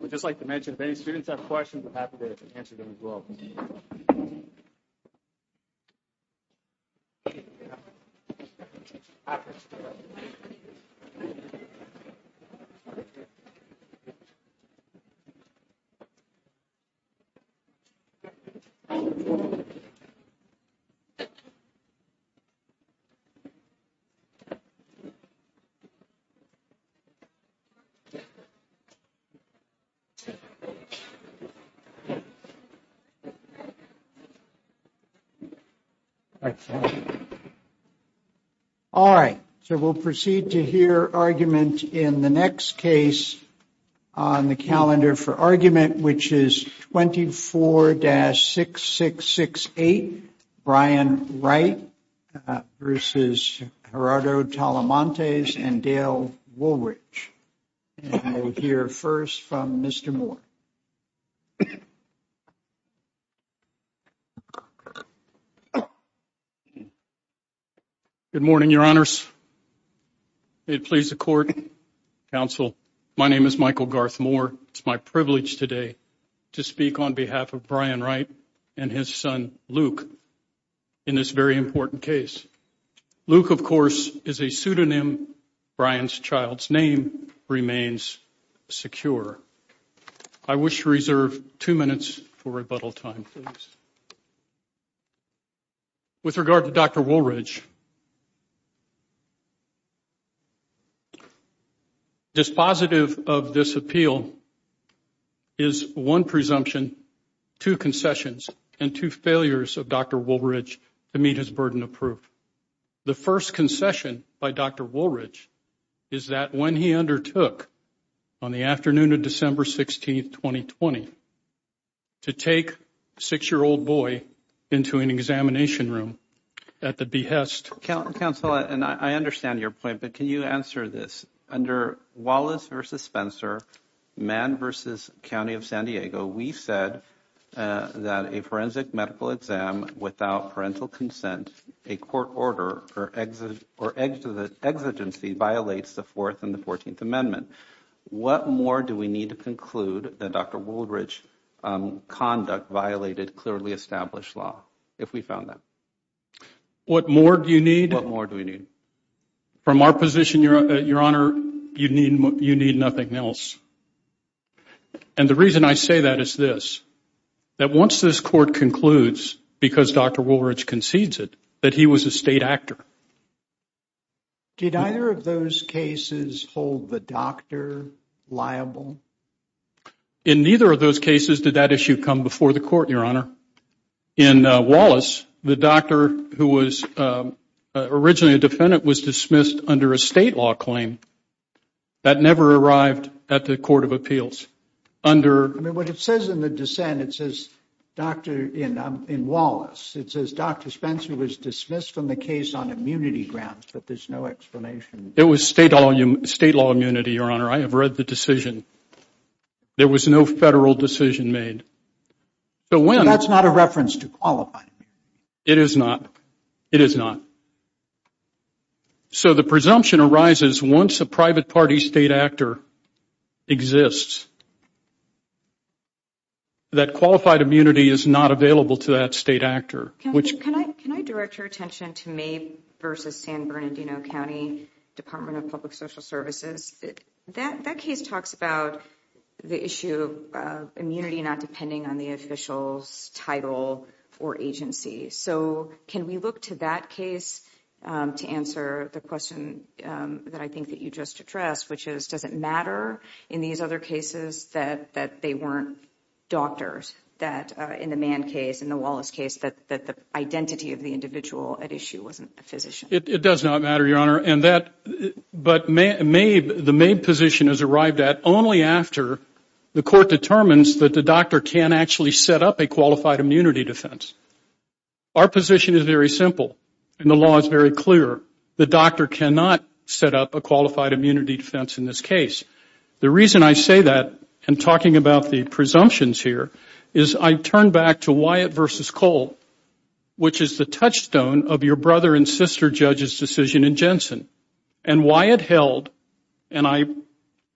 We'd just like to mention, if any students have questions, we're happy to answer them as well. All right. All right. So we'll proceed to hear argument in the next case on the calendar for argument, which is twenty four to six, six, six, eight. Brian, right. This is Gerardo Talamantes and Dale Woolwich here first from Mr. Moore. Good morning, Your Honors. It please the court. Counsel, my name is Michael Garth Moore. It's my privilege today to speak on behalf of Brian Wright and his son Luke in this very important case. Luke, of course, is a pseudonym. Brian's child's name remains secure. I wish to reserve two minutes for rebuttal time. With regard to Dr. Woolridge. Dispositive of this appeal is one presumption, two concessions and two failures of Dr. Woolridge to meet his burden of proof. The first concession by Dr. Woolridge is that when he undertook on the afternoon of December 16th, 2020. To take six year old boy into an examination room at the behest of counsel. And I understand your point, but can you answer this under Wallace versus Spencer man versus county of San Diego? We said that a forensic medical exam without parental consent, a court order or exit or exit of the exigency violates the fourth and the 14th Amendment. What more do we need to conclude that Dr. Woolridge conduct violated clearly established law if we found that? What more do you need? What more do we need? From our position, Your Honor, you need you need nothing else. And the reason I say that is this. That once this court concludes, because Dr. Woolridge concedes it, that he was a state actor. Did either of those cases hold the doctor liable? In neither of those cases did that issue come before the court, Your Honor. In Wallace, the doctor who was originally a defendant was dismissed under a state law claim. That never arrived at the court of appeals under what it says in the dissent. It says, doctor, you know, in Wallace, it says Dr. Spencer was dismissed from the case on immunity grounds. But there's no explanation. It was state all state law immunity. Your Honor, I have read the decision. There was no federal decision made. So when that's not a reference to qualify, it is not. It is not. So the presumption arises once a private party state actor exists. That qualified immunity is not available to that state actor. Can I direct your attention to May versus San Bernardino County Department of Public Social Services? That case talks about the issue of immunity not depending on the official's title or agency. So can we look to that case to answer the question that I think that you just addressed, which is, does it matter in these other cases that they weren't doctors, that in the Mann case, in the Wallace case, that the identity of the individual at issue wasn't a physician? It does not matter, Your Honor. But the May position is arrived at only after the court determines that the doctor can actually set up a qualified immunity defense. Our position is very simple, and the law is very clear. The doctor cannot set up a qualified immunity defense in this case. The reason I say that in talking about the presumptions here is I turn back to Wyatt versus Cole, which is the touchstone of your brother and sister judge's decision in Jensen. And Wyatt held, and I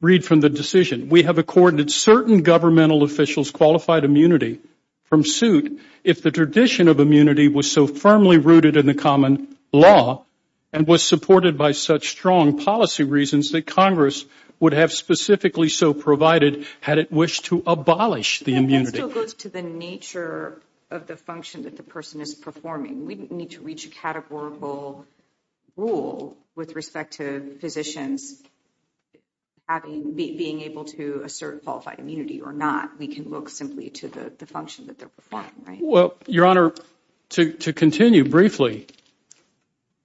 read from the decision, we have accorded certain governmental officials qualified immunity from suit if the tradition of immunity was so firmly rooted in the common law and was supported by such strong policy reasons that Congress would have specifically so provided had it wished to abolish the immunity. That still goes to the nature of the function that the person is performing. We need to reach a categorical rule with respect to physicians being able to assert qualified immunity or not. We can look simply to the function that they're performing, right? Well, Your Honor, to continue briefly,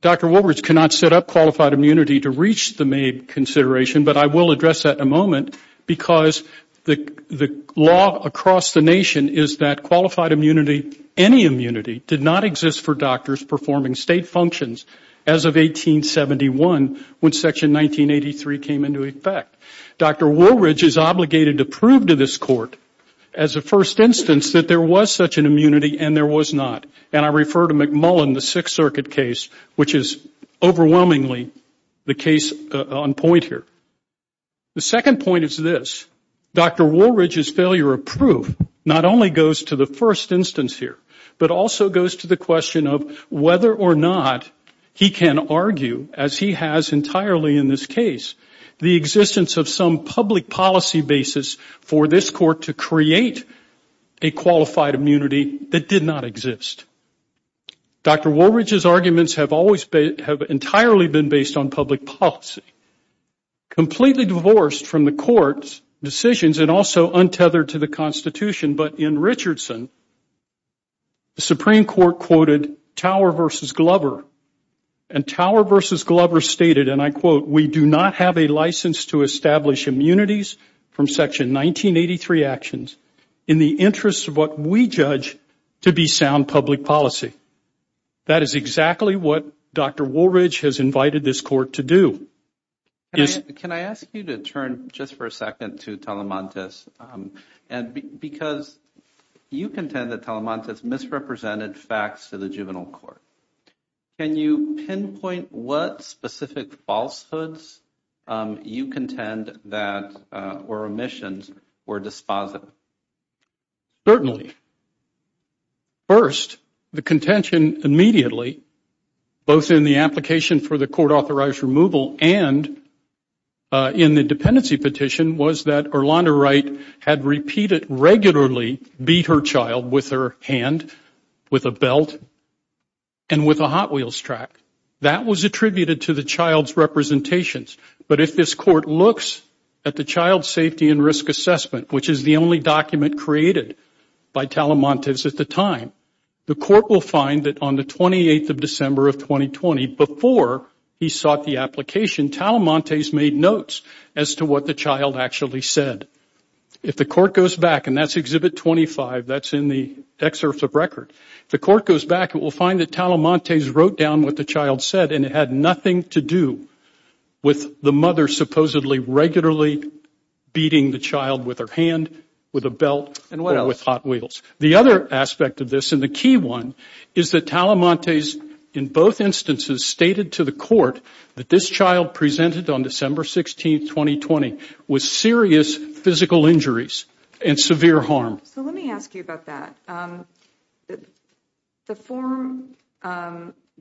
Dr. Woolbridge cannot set up qualified immunity to reach the May consideration, but I will address that in a moment because the law across the nation is that qualified immunity, any immunity, did not exist for doctors performing state functions as of 1871 when Section 1983 came into effect. Dr. Woolbridge is obligated to prove to this Court as a first instance that there was such an immunity and there was not. And I refer to McMullen, the Sixth Circuit case, which is overwhelmingly the case on point here. The second point is this. Dr. Woolbridge's failure of proof not only goes to the first instance here, but also goes to the question of whether or not he can argue, as he has entirely in this case, the existence of some public policy basis for this Court to create a qualified immunity that did not exist. Dr. Woolbridge's arguments have entirely been based on public policy, completely divorced from the Court's decisions and also untethered to the Constitution. But in Richardson, the Supreme Court quoted Tower v. Glover. And Tower v. Glover stated, and I quote, We do not have a license to establish immunities from Section 1983 actions in the interest of what we judge to be sound public policy. That is exactly what Dr. Woolbridge has invited this Court to do. Can I ask you to turn just for a second to Telemontes? Because you contend that Telemontes misrepresented facts to the juvenile court. Can you pinpoint what specific falsehoods you contend that or omissions were dispositive? Certainly. First, the contention immediately, both in the application for the court-authorized removal and in the dependency petition was that Erlonda Wright had repeatedly, regularly beat her child with her hand, with a belt and with a Hot Wheels track. That was attributed to the child's representations. But if this Court looks at the Child Safety and Risk Assessment, which is the only document created by Telemontes at the time, the Court will find that on the 28th of December of 2020, before he sought the application, Telemontes made notes as to what the child actually said. If the Court goes back, and that's Exhibit 25, that's in the excerpts of record, if the Court goes back, it will find that Telemontes wrote down what the child said and it had nothing to do with the mother supposedly regularly beating the child with her hand, with a belt or with Hot Wheels. The other aspect of this, and the key one, is that Telemontes, in both instances, stated to the Court that this child presented on December 16, 2020, with serious physical injuries and severe harm. So let me ask you about that. The form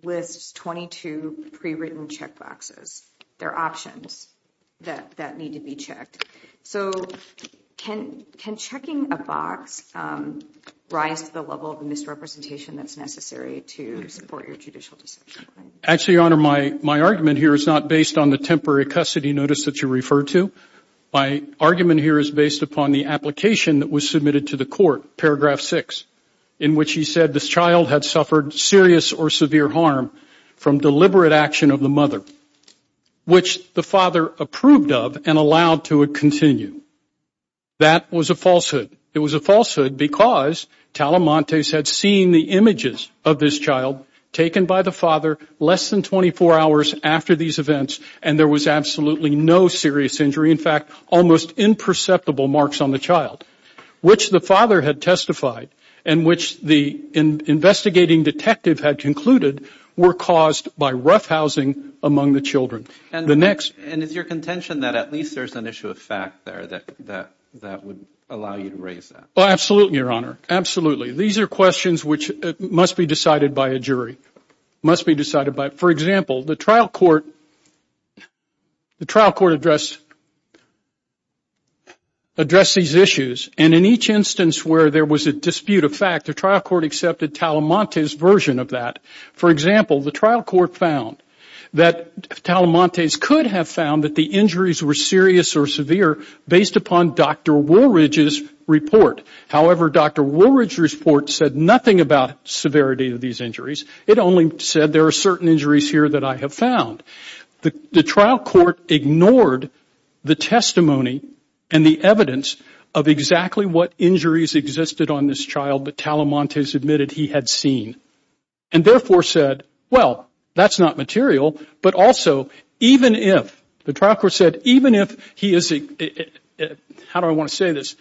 lists 22 pre-written checkboxes. There are options that need to be checked. So can checking a box rise to the level of misrepresentation that's necessary to support your judicial decision? Actually, Your Honor, my argument here is not based on the temporary custody notice that you referred to. My argument here is based upon the application that was submitted to the Court, Paragraph 6, in which he said this child had suffered serious or severe harm from deliberate action of the mother, which the father approved of and allowed to continue. That was a falsehood. It was a falsehood because Telemontes had seen the images of this child taken by the father less than 24 hours after these events and there was absolutely no serious injury, in fact, almost imperceptible marks on the child, which the father had testified and which the investigating detective had concluded were caused by roughhousing among the children. And is your contention that at least there's an issue of fact there that would allow you to raise that? Oh, absolutely, Your Honor, absolutely. These are questions which must be decided by a jury, must be decided by. For example, the trial court addressed these issues, and in each instance where there was a dispute of fact, the trial court accepted Telemontes' version of that. For example, the trial court found that Telemontes could have found that the injuries were serious or severe based upon Dr. Woolridge's report. However, Dr. Woolridge's report said nothing about severity of these injuries. It only said there are certain injuries here that I have found. The trial court ignored the testimony and the evidence of exactly what injuries existed on this child that Telemontes admitted he had seen and therefore said, well, that's not material, but also even if, the trial court said, even if he is, how do I want to say this,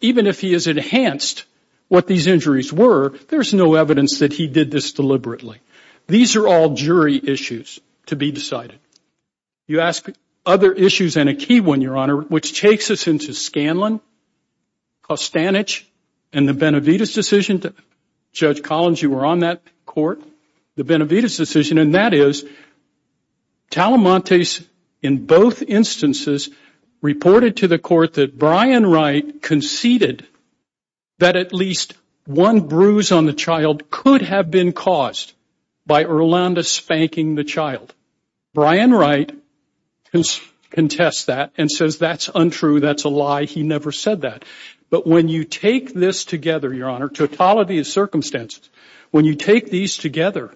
even if he has enhanced what these injuries were, there's no evidence that he did this deliberately. These are all jury issues to be decided. You ask other issues and a key one, Your Honor, which takes us into Scanlon, Costanich, and the Benavides decision, Judge Collins, you were on that court, the Benavides decision, and that is Telemontes in both instances reported to the court that Brian Wright conceded that at least one bruise on the child could have been caused by Orlando spanking the child. Brian Wright contests that and says that's untrue, that's a lie, he never said that. But when you take this together, Your Honor, totality of circumstances, when you take these together,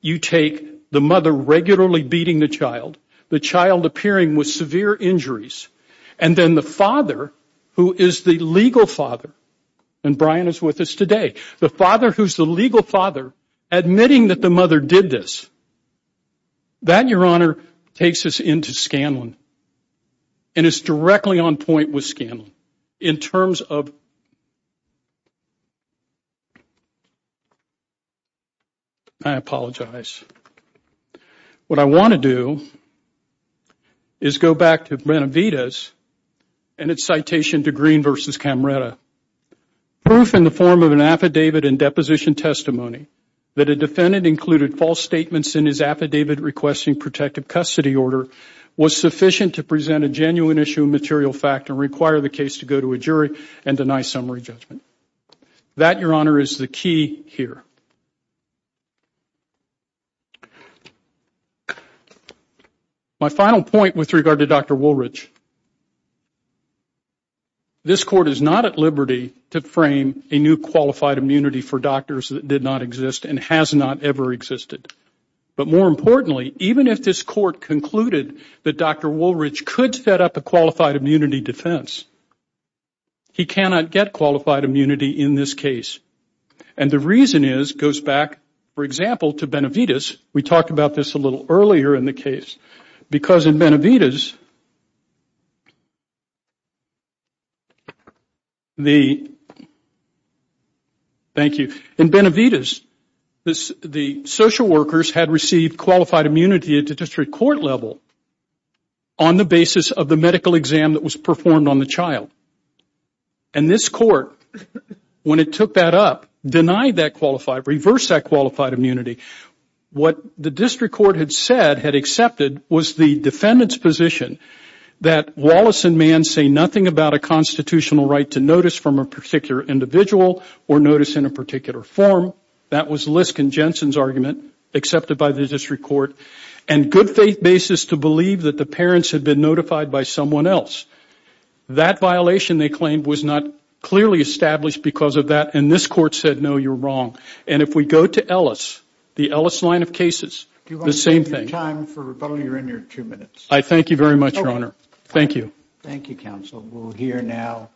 you take the mother regularly beating the child, the child appearing with severe injuries, and then the father, who is the legal father, and Brian is with us today, the father who is the legal father admitting that the mother did this, that, Your Honor, takes us into Scanlon and is directly on point with Scanlon in terms of, I apologize. What I want to do is go back to Benavides and its citation to Green v. Camreta. Proof in the form of an affidavit and deposition testimony that a defendant included false statements in his affidavit requesting protective custody order was sufficient to present a genuine issue of material fact and require the case to go to a jury and deny summary judgment. That, Your Honor, is the key here. My final point with regard to Dr. Woolridge, this Court is not at liberty to frame a new qualified immunity for doctors that did not exist and has not ever existed. But more importantly, even if this Court concluded that Dr. Woolridge could set up a qualified immunity defense, he cannot get qualified immunity in this case. And the reason is, goes back, for example, to Benavides. We talked about this a little earlier in the case. Because in Benavides, the, thank you, in Benavides, the social workers had received qualified immunity at the district court level on the basis of the medical exam that was performed on the child. And this Court, when it took that up, denied that qualified, reversed that qualified immunity. What the district court had said, had accepted, was the defendant's position that Wallace and Mann say nothing about a constitutional right to notice from a particular individual or notice in a particular form. That was Lisk and Jensen's argument, accepted by the district court. And good faith basis to believe that the parents had been notified by someone else. That violation, they claimed, was not clearly established because of that. And this Court said, no, you're wrong. And if we go to Ellis, the Ellis line of cases, the same thing. I thank you very much, Your Honor. Thank you. Thank you, counsel. We'll hear now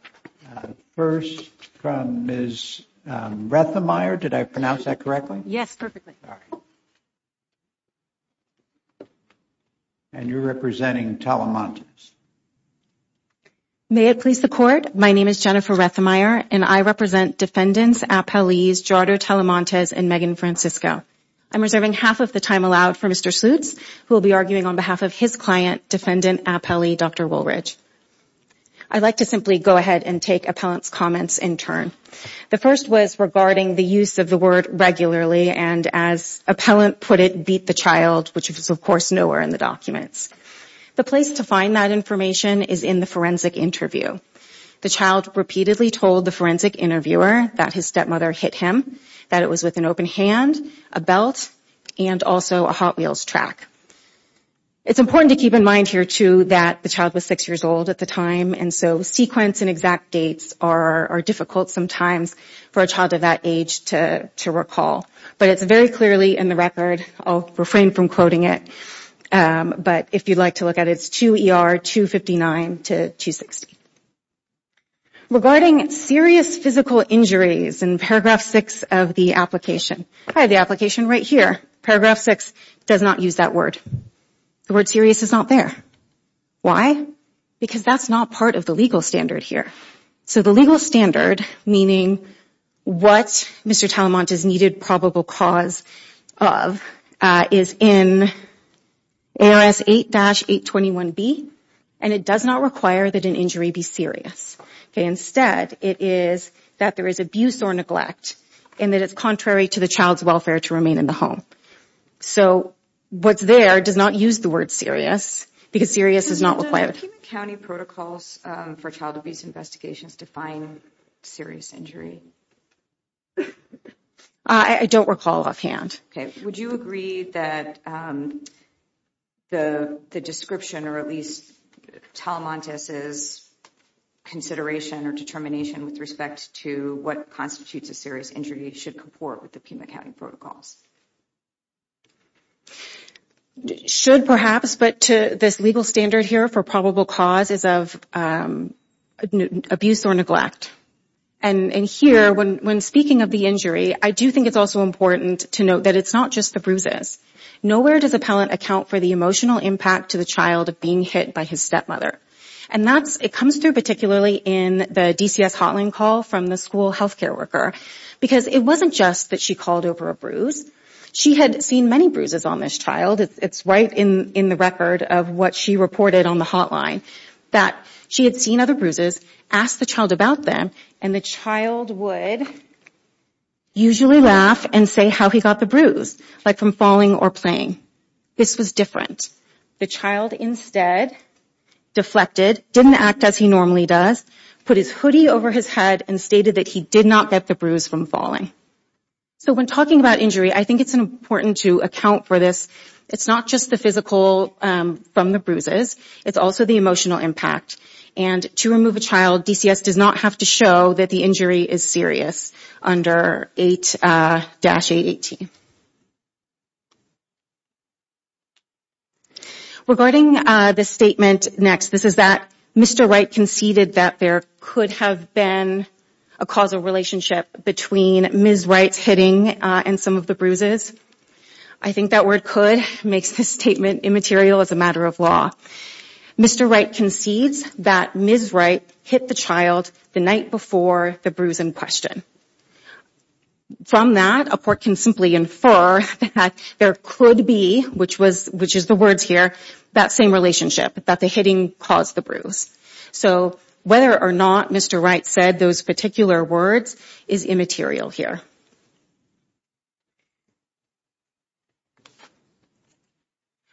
first from Ms. Rethemeier. Did I pronounce that correctly? Yes, perfectly. All right. And you're representing Telemontes. May it please the Court? My name is Jennifer Rethemeier, and I represent defendants, appellees, Jarder Telemontes and Megan Francisco. I'm reserving half of the time allowed for Mr. Slutz, who will be arguing on behalf of his client, defendant appellee Dr. Woolridge. I'd like to simply go ahead and take appellant's comments in turn. The first was regarding the use of the word regularly, and as appellant put it, beat the child, which was of course nowhere in the documents. The place to find that information is in the forensic interview. The child repeatedly told the forensic interviewer that his stepmother hit him, that it was with an open hand, a belt, and also a Hot Wheels track. It's important to keep in mind here, too, that the child was six years old at the time, and so sequence and exact dates are difficult sometimes for a child of that age to recall. But it's very clearly in the record. I'll refrain from quoting it, but if you'd like to look at it, it's 2 ER 259 to 260. Regarding serious physical injuries in paragraph 6 of the application, I have the application right here. Paragraph 6 does not use that word. The word serious is not there. Why? Because that's not part of the legal standard here. So the legal standard, meaning what Mr. Talamant is needed probable cause of, is in ARS 8-821B, and it does not require that an injury be serious. Instead, it is that there is abuse or neglect, and that it's contrary to the child's welfare to remain in the home. So what's there does not use the word serious, because serious is not required. Does the McKibbin County Protocols for Child Abuse Investigations define serious injury? I don't recall offhand. Okay. Would you agree that the description or at least Talamant's consideration or determination with respect to what constitutes a serious injury should comport with the Pima County Protocols? Should perhaps, but to this legal standard here for probable cause is of abuse or neglect. And here, when speaking of the injury, I do think it's also important to note that it's not just the bruises. Nowhere does appellant account for the emotional impact to the child of being hit by his stepmother. And it comes through particularly in the DCS hotline call from the school health care worker, because it wasn't just that she called over a bruise. She had seen many bruises on this child. It's right in the record of what she reported on the hotline, that she had seen other bruises, asked the child about them, and the child would usually laugh and say how he got the bruise, like from falling or playing. This was different. The child instead deflected, didn't act as he normally does, put his hoodie over his head and stated that he did not get the bruise from falling. So when talking about injury, I think it's important to account for this. It's not just the physical from the bruises. It's also the emotional impact. And to remove a child, DCS does not have to show that the injury is serious under 8-818. Regarding this statement next, this is that Mr. Wright conceded that there could have been a causal relationship between Ms. Wright's hitting and some of the bruises. I think that word could makes this statement immaterial as a matter of law. Mr. Wright concedes that Ms. Wright hit the child the night before the bruise in question. From that, Upwork can simply infer that there could be, which is the words here, that same relationship, that the hitting caused the bruise. So whether or not Mr. Wright said those particular words is immaterial here.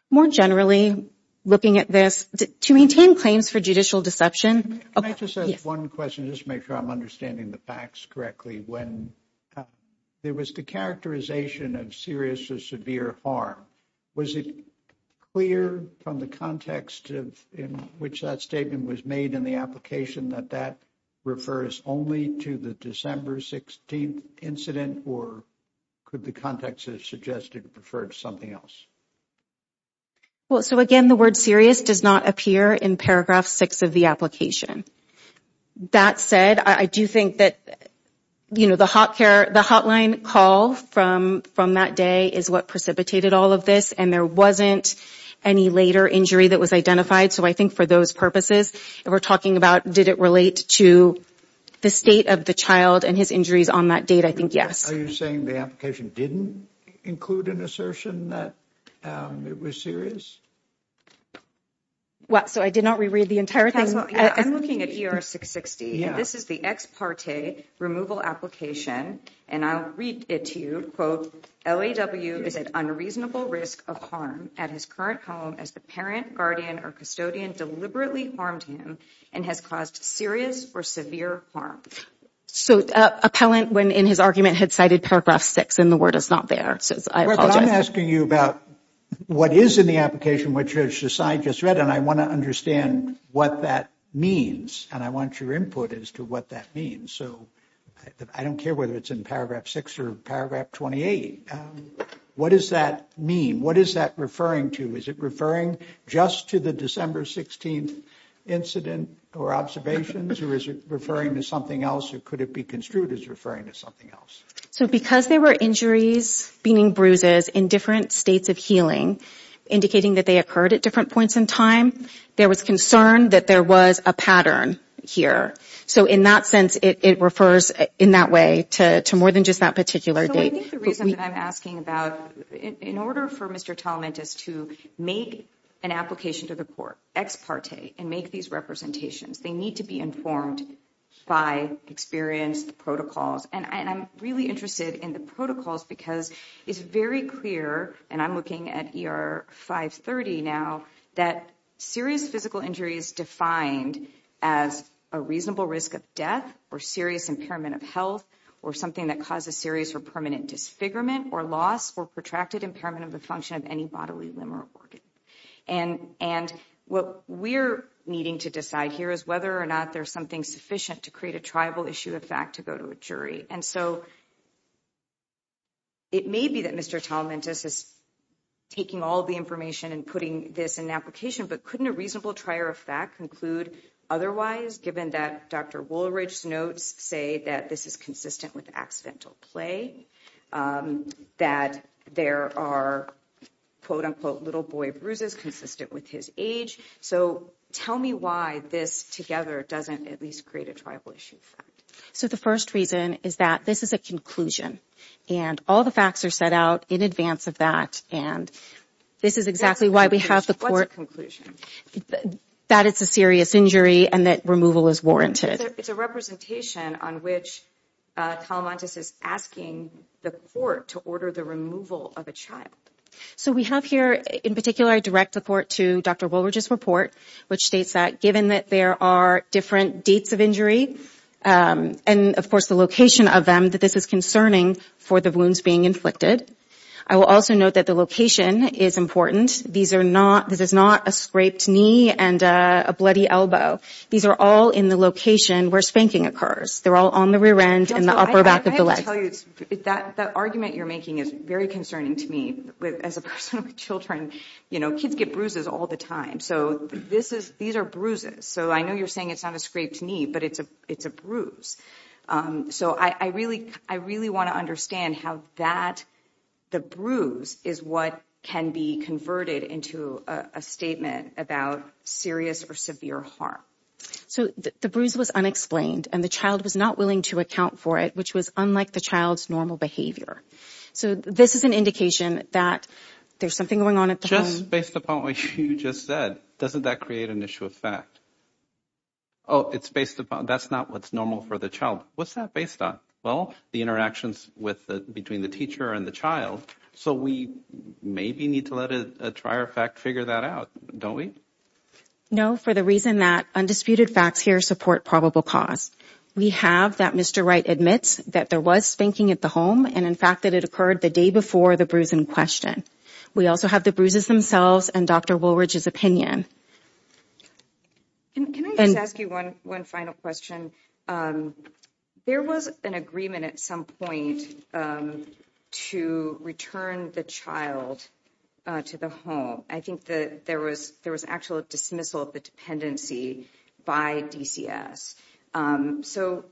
More generally, looking at this, to maintain claims for judicial deception... Can I just ask one question just to make sure I'm understanding the facts correctly? When there was the characterization of serious or severe harm, was it clear from the context in which that statement was made in the application that that refers only to the December 16th incident? Or could the context have suggested it referred to something else? So again, the word serious does not appear in paragraph 6 of the application. That said, I do think that the hotline call from that day is what precipitated all of this, and there wasn't any later injury that was identified. So I think for those purposes, if we're talking about did it relate to the state of the child and his injuries on that date, I think yes. Are you saying the application didn't include an assertion that it was serious? So I did not reread the entire thing? I'm looking at ER 660, and this is the ex parte removal application. And I'll read it to you. Quote, L.A.W. is at unreasonable risk of harm at his current home as the parent, guardian, or custodian deliberately harmed him and has caused serious or severe harm. So appellant, when in his argument, had cited paragraph 6, and the word is not there. I apologize. I'm asking you about what is in the application, which I just read, and I want to understand what that means, and I want your input as to what that means. So I don't care whether it's in paragraph 6 or paragraph 28. What does that mean? What is that referring to? Is it referring just to the December 16th incident or observations, or is it referring to something else, or could it be construed as referring to something else? So because there were injuries, meaning bruises, in different states of healing, indicating that they occurred at different points in time, there was concern that there was a pattern here. So in that sense, it refers in that way to more than just that particular date. So I think the reason that I'm asking about, in order for Mr. Talamantis to make an application to the court, ex parte, and make these representations, they need to be informed by experienced protocols. And I'm really interested in the protocols because it's very clear, and I'm looking at ER 530 now, that serious physical injury is defined as a reasonable risk of death or serious impairment of health or something that causes serious or permanent disfigurement or loss or protracted impairment of the function of any bodily limb or organ. And what we're needing to decide here is whether or not there's something sufficient to create a triable issue of fact to go to a jury. And so it may be that Mr. Talamantis is taking all the information and putting this in an application, but couldn't a reasonable trier of fact conclude otherwise, given that Dr. Woolridge's notes say that this is consistent with accidental play, that there are, quote, unquote, little boy bruises consistent with his age? So tell me why this together doesn't at least create a triable issue of fact. So the first reason is that this is a conclusion, and all the facts are set out in advance of that. And this is exactly why we have the court. That it's a serious injury and that removal is warranted. It's a representation on which Talamantis is asking the court to order the removal of a child. So we have here, in particular, a direct report to Dr. Woolridge's report, which states that given that there are different dates of injury and, of course, the location of them, that this is concerning for the wounds being inflicted. I will also note that the location is important. This is not a scraped knee and a bloody elbow. These are all in the location where spanking occurs. They're all on the rear end and the upper back of the leg. I have to tell you, that argument you're making is very concerning to me. As a person with children, you know, kids get bruises all the time. So these are bruises. So I know you're saying it's not a scraped knee, but it's a bruise. So I really want to understand how that, the bruise, is what can be converted into a statement about serious or severe harm. So the bruise was unexplained and the child was not willing to account for it, which was unlike the child's normal behavior. So this is an indication that there's something going on at the home. Just based upon what you just said, doesn't that create an issue of fact? Oh, it's based upon, that's not what's normal for the child. What's that based on? Well, the interactions between the teacher and the child. So we maybe need to let a trier fact figure that out, don't we? No, for the reason that undisputed facts here support probable cause. We have that Mr. Wright admits that there was spanking at the home, and in fact that it occurred the day before the bruise in question. We also have the bruises themselves and Dr. Woolridge's opinion. Can I just ask you one final question? There was an agreement at some point to return the child to the home. I think that there was actual dismissal of the dependency by DCS. So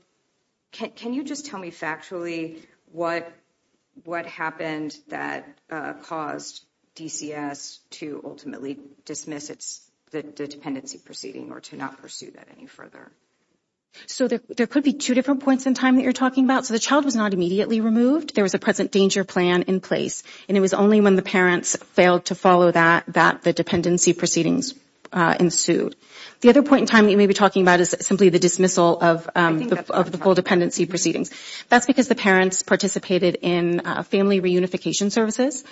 can you just tell me factually what happened that caused DCS to ultimately dismiss the dependency proceeding or to not pursue that any further? So there could be two different points in time that you're talking about. So the child was not immediately removed. There was a present danger plan in place, and it was only when the parents failed to follow that that the dependency proceedings ensued. The other point in time that you may be talking about is simply the dismissal of the full dependency proceedings. That's because the parents participated in family reunification services,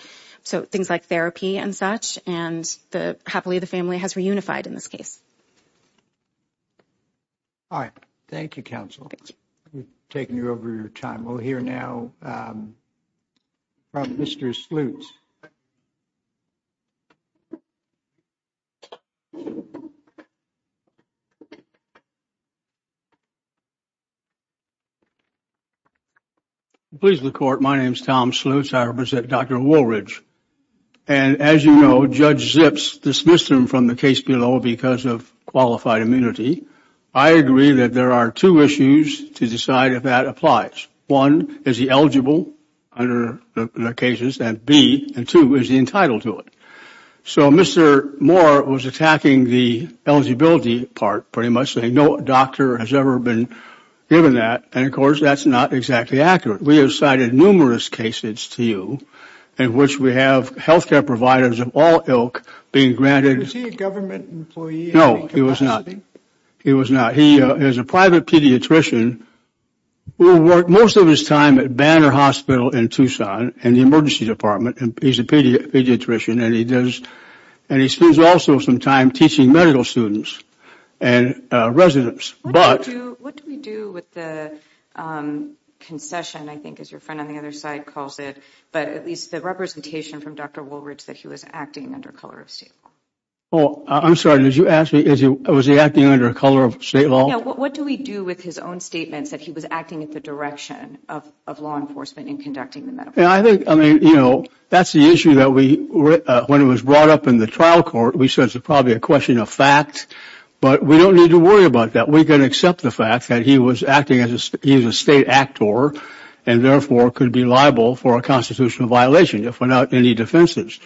so things like therapy and such, and happily the family has reunified in this case. All right. Thank you, counsel. We've taken you over your time. We'll hear now from Mr. Sloots. Please. Please, the court. My name is Tom Sloots. I represent Dr. Woolridge, and as you know, Judge Zips dismissed him from the case below because of qualified immunity. I agree that there are two issues to decide if that applies. One, is he eligible under the cases, and B, and two, is he entitled to it? So Mr. Moore was attacking the eligibility part, pretty much, saying no doctor has ever been given that, and of course that's not exactly accurate. We have cited numerous cases to you in which we have health care providers of all ilk being granted Is he a government employee? No, he was not. He is a private pediatrician who worked most of his time at Banner Hospital in Tucson in the emergency department. He's a pediatrician, and he spends also some time teaching medical students and residents. What do we do with the concession, I think, as your friend on the other side calls it, but at least the representation from Dr. Woolridge that he was acting under color of state law? I'm sorry, did you ask me if he was acting under color of state law? No, what do we do with his own statements that he was acting in the direction of law enforcement and conducting the medical? Yeah, I think, I mean, you know, that's the issue that we, when it was brought up in the trial court, we said it's probably a question of fact, but we don't need to worry about that. We can accept the fact that he was acting as a state actor and therefore could be liable for a constitutional violation if without any defenses.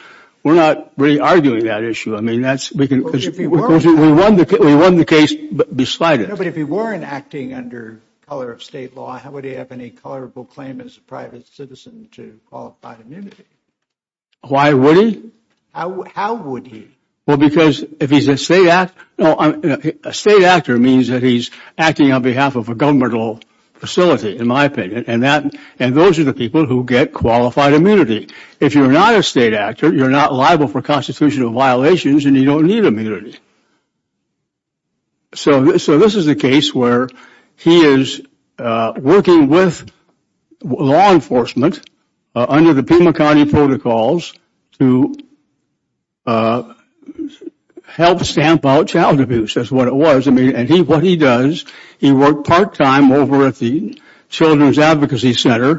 We're not really arguing that issue. I mean, we won the case beside it. No, but if he weren't acting under color of state law, how would he have any colorable claim as a private citizen to qualified immunity? Why would he? How would he? Well, because if he's a state actor, no, a state actor means that he's acting on behalf of a governmental facility, in my opinion, and those are the people who get qualified immunity. If you're not a state actor, you're not liable for constitutional violations and you don't need immunity. So this is a case where he is working with law enforcement under the Pima County protocols to help stamp out child abuse, is what it was. I mean, and what he does, he worked part-time over at the Children's Advocacy Center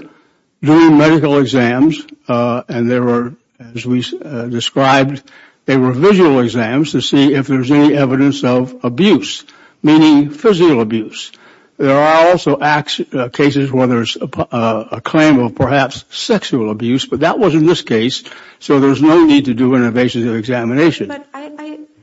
doing medical exams, and there were, as we described, they were visual exams to see if there was any evidence of abuse, meaning physical abuse. There are also cases where there's a claim of perhaps sexual abuse, but that wasn't this case, so there's no need to do an evasive examination. But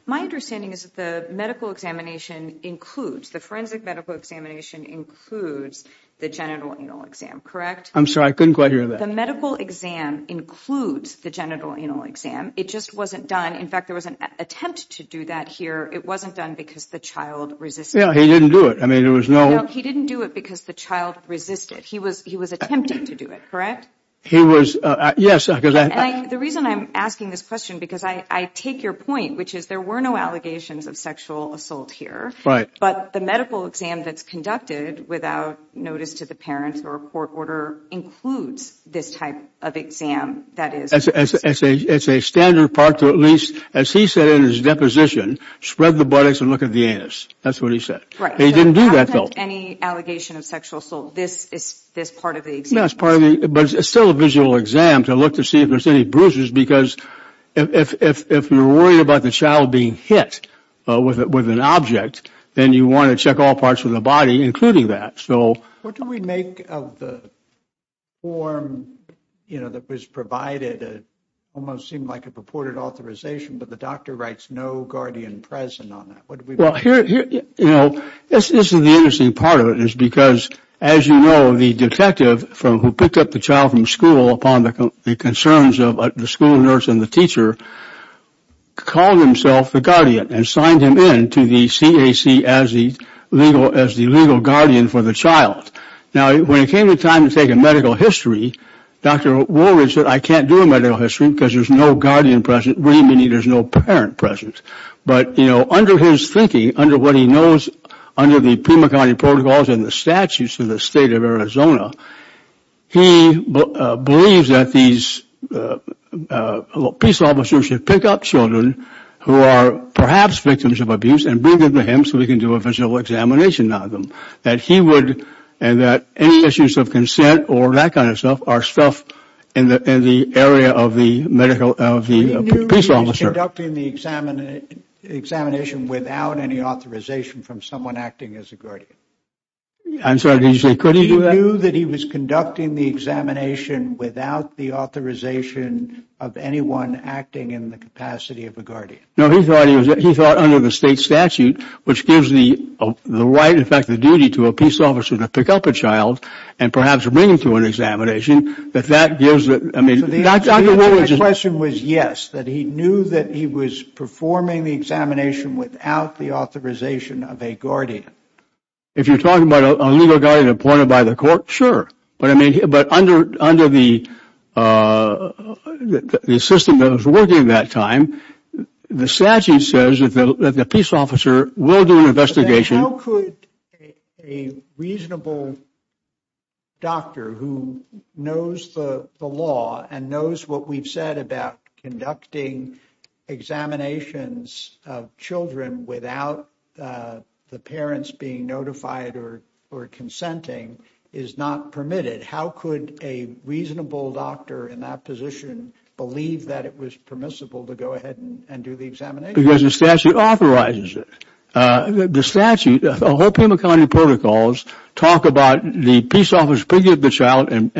my understanding is that the medical examination includes, the forensic medical examination includes the genital anal exam, correct? I'm sorry, I couldn't quite hear that. The medical exam includes the genital anal exam. It just wasn't done. In fact, there was an attempt to do that here. It wasn't done because the child resisted. Yeah, he didn't do it. I mean, there was no... No, he didn't do it because the child resisted. He was attempting to do it, correct? He was, yes, because I... And the reason I'm asking this question, because I take your point, which is there were no allegations of sexual assault here, but the medical exam that's conducted without notice to the parents or a court order includes this type of exam that is... It's a standard part to at least, as he said in his deposition, spread the buttocks and look at the anus. That's what he said. He didn't do that, though. I haven't had any allegation of sexual assault. This is part of the exam. No, it's part of the... But it's still a visual exam to look to see if there's any bruises because if you're worried about the child being hit with an object, then you want to check all parts of the body, including that. What do we make of the form that was provided? It almost seemed like a purported authorization, but the doctor writes no guardian present on that. What do we make of that? This is the interesting part of it, is because, as you know, the detective who picked up the child from school upon the concerns of the school nurse and the teacher called himself the guardian and signed him into the CAC as the legal guardian for the child. Now, when it came to time to take a medical history, Dr. Woolridge said, I can't do a medical history because there's no guardian present, meaning there's no parent present. But, you know, under his thinking, under what he knows under the Pima County protocols and the statutes of the state of Arizona, he believes that these police officers should pick up children who are perhaps victims of abuse and bring them to him so he can do a physical examination on them. That he would, and that any issues of consent or that kind of stuff are stuff in the area of the medical, of the police officer. He knew he was conducting the examination without any authorization from someone acting as a guardian. I'm sorry, did you say could he do that? He knew that he was conducting the examination without the authorization of anyone acting in the capacity of a guardian. No, he thought under the state statute, which gives the right, in fact the duty, to a police officer to pick up a child and perhaps bring him to an examination, that that gives the, I mean, Dr. Woolridge. My question was yes, that he knew that he was performing the examination without the authorization of a guardian. If you're talking about a legal guardian appointed by the court, sure. But under the system that was working at that time, the statute says that the police officer will do an investigation. How could a reasonable doctor who knows the law and knows what we've said about conducting examinations of children without the parents being notified or consenting is not permitted? How could a reasonable doctor in that position believe that it was permissible to go ahead and do the examination? Because the statute authorizes it. The statute, the whole Pima County protocols talk about the police officer picking up the child and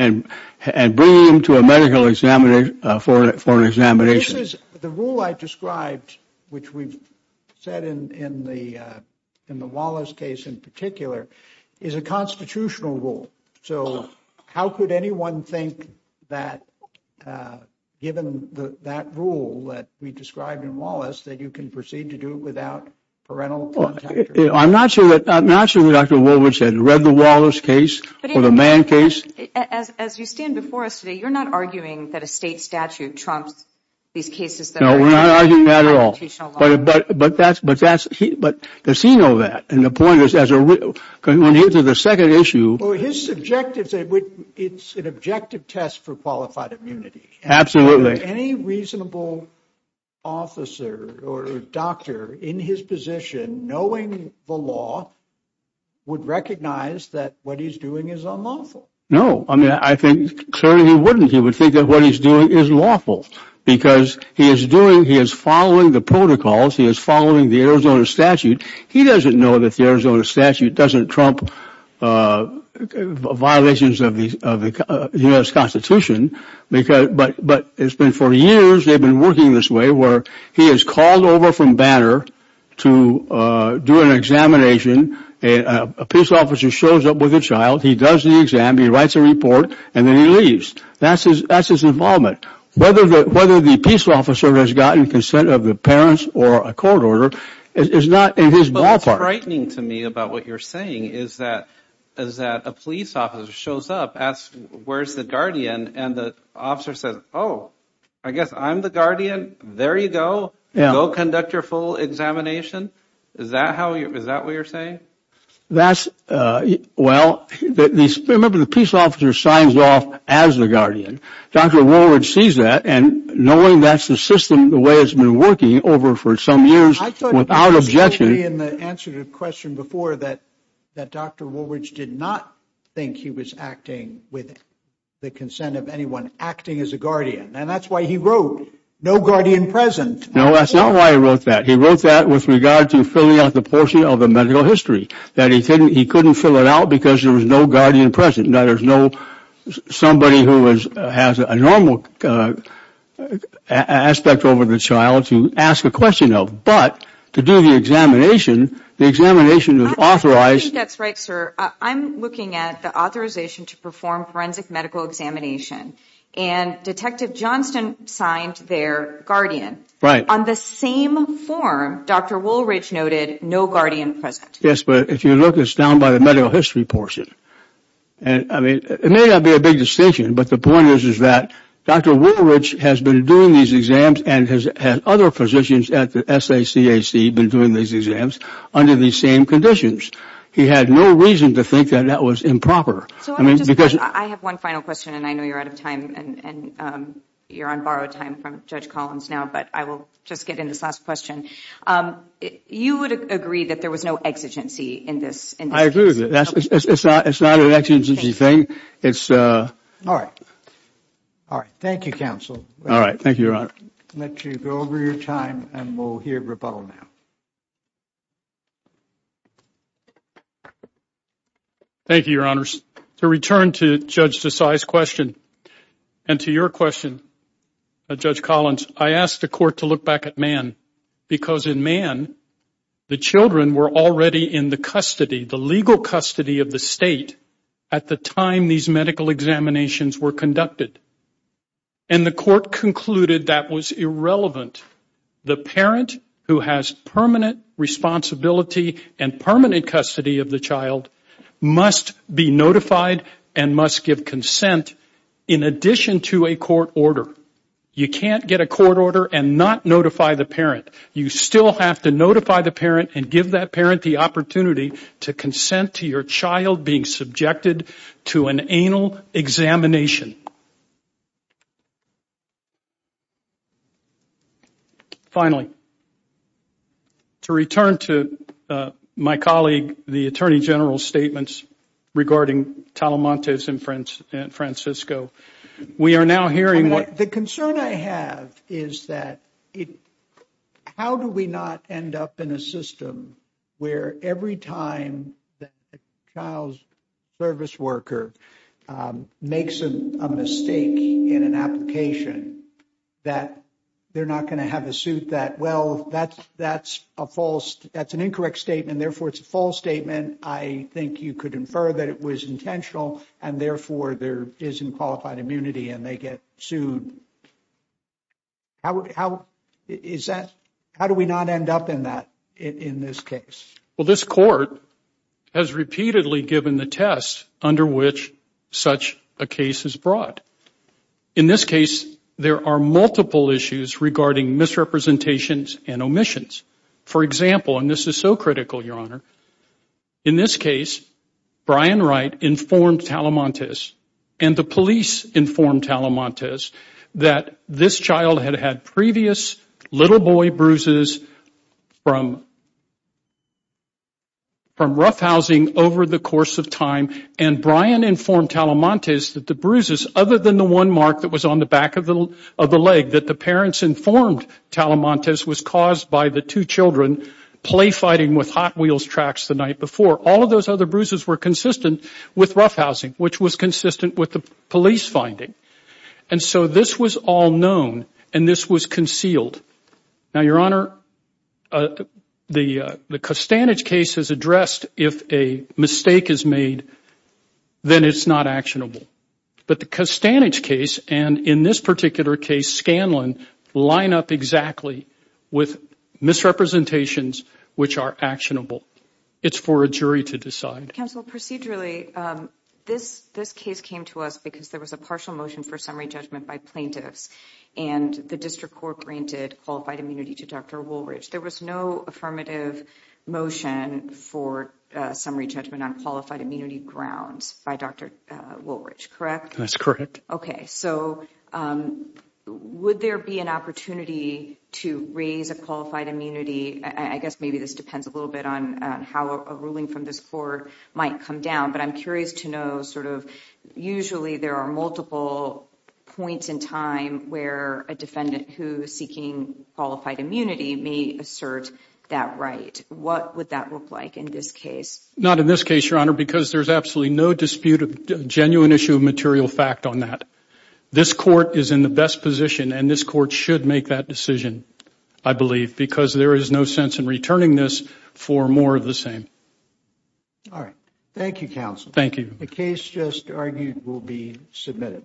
bringing him to a medical examination, for an examination. This is, the rule I described, which we've said in the Wallace case in particular, is a constitutional rule. So how could anyone think that, given that rule that we described in Wallace, that you can proceed to do it without parental contact? I'm not sure that Dr. Woolridge had read the Wallace case or the Mann case. As you stand before us today, you're not arguing that a state statute trumps these cases. No, we're not arguing that at all. But does he know that? And the point is, when he went into the second issue... Well, his objectives, it's an objective test for qualified immunity. Absolutely. Any reasonable officer or doctor in his position, knowing the law, would recognize that what he's doing is unlawful. No. I mean, I think, certainly he wouldn't. He would think that what he's doing is lawful. Because he is doing, he is following the protocols, he is following the Arizona statute. He doesn't know that the Arizona statute doesn't trump violations of the U.S. Constitution. But it's been for years they've been working this way, where he is called over from Banner to do an examination. A police officer shows up with a child. He does the exam. He writes a report. And then he leaves. That's his involvement. Whether the police officer has gotten consent of the parents or a court order is not in his ballpark. What's frightening to me about what you're saying is that a police officer shows up, asks where's the guardian, and the officer says, oh, I guess I'm the guardian. There you go. Go conduct your full examination. Is that what you're saying? That's, well, remember the police officer signs off as the guardian. Dr. Woolridge sees that, and knowing that's the system, the way it's been working over for some years without objection. I thought you said in the answer to the question before that Dr. Woolridge did not think he was acting with the consent of anyone, acting as a guardian. And that's why he wrote, no guardian present. No, that's not why he wrote that. He wrote that with regard to filling out the portion of the medical history, that he couldn't fill it out because there was no guardian present, and that there's no somebody who has a normal aspect over the child to ask a question of. But to do the examination, the examination was authorized. I think that's right, sir. I'm looking at the authorization to perform forensic medical examination, and Detective Johnston signed there guardian. Right. On the same form, Dr. Woolridge noted no guardian present. Yes, but if you look, it's down by the medical history portion. It may not be a big distinction, but the point is that Dr. Woolridge has been doing these exams and has had other physicians at the SACAC been doing these exams under these same conditions. He had no reason to think that that was improper. I have one final question, and I know you're out of time, and you're on borrowed time from Judge Collins now, but I will just get in this last question. You would agree that there was no exigency in this? I agree with you. It's not an exigency thing. All right. All right. Thank you, counsel. All right. Thank you, Your Honor. I'll let you go over your time, and we'll hear rebuttal now. Thank you, Your Honors. To return to Judge Desai's question and to your question, Judge Collins, I asked the court to look back at Mann because in Mann the children were already in the custody, the legal custody of the state at the time these medical examinations were conducted, and the court concluded that was irrelevant. The parent who has permanent responsibility and permanent custody of the child must be notified and must give consent in addition to a court order. You can't get a court order and not notify the parent. You still have to notify the parent and give that parent the opportunity to consent to your child being subjected to an anal examination. Finally, to return to my colleague the Attorney General's statements regarding Talamantes and Francisco, we are now hearing what the concern I have is that how do we not end up in a system where every time that a child's service worker makes a mistake in an application that they're not going to have a suit that, well, that's an incorrect statement, therefore it's a false statement. I think you could infer that it was intentional and, therefore, there isn't qualified immunity and they get sued. How do we not end up in that in this case? Well, this court has repeatedly given the test under which such a case is brought. In this case, there are multiple issues regarding misrepresentations and omissions. For example, and this is so critical, Your Honor, in this case, Brian Wright informed Talamantes and the police informed Talamantes that this child had had previous little boy bruises from roughhousing over the course of time and Brian informed Talamantes that the bruises, other than the one mark that was on the back of the leg that the parents informed Talamantes was caused by the two children play fighting with Hot Wheels tracks the night before. All of those other bruises were consistent with roughhousing, which was consistent with the police finding. And so this was all known and this was concealed. Now, Your Honor, the Costanich case is addressed if a mistake is made, then it's not actionable. But the Costanich case and in this particular case, Scanlon, line up exactly with misrepresentations which are actionable. It's for a jury to decide. Counsel, procedurally, this case came to us because there was a partial motion for summary judgment by plaintiffs and the district court granted qualified immunity to Dr. Woolridge. There was no affirmative motion for summary judgment on qualified immunity grounds by Dr. Woolridge, correct? That's correct. OK, so would there be an opportunity to raise a qualified immunity? I guess maybe this depends a little bit on how a ruling from this court might come down. But I'm curious to know sort of usually there are multiple points in time where a defendant who is seeking qualified immunity may assert that right. What would that look like in this case? Not in this case, Your Honor, because there's absolutely no dispute of genuine issue of material fact on that. This court is in the best position and this court should make that decision, I believe, because there is no sense in returning this for more of the same. All right. Thank you, Counsel. Thank you. The case just argued will be submitted.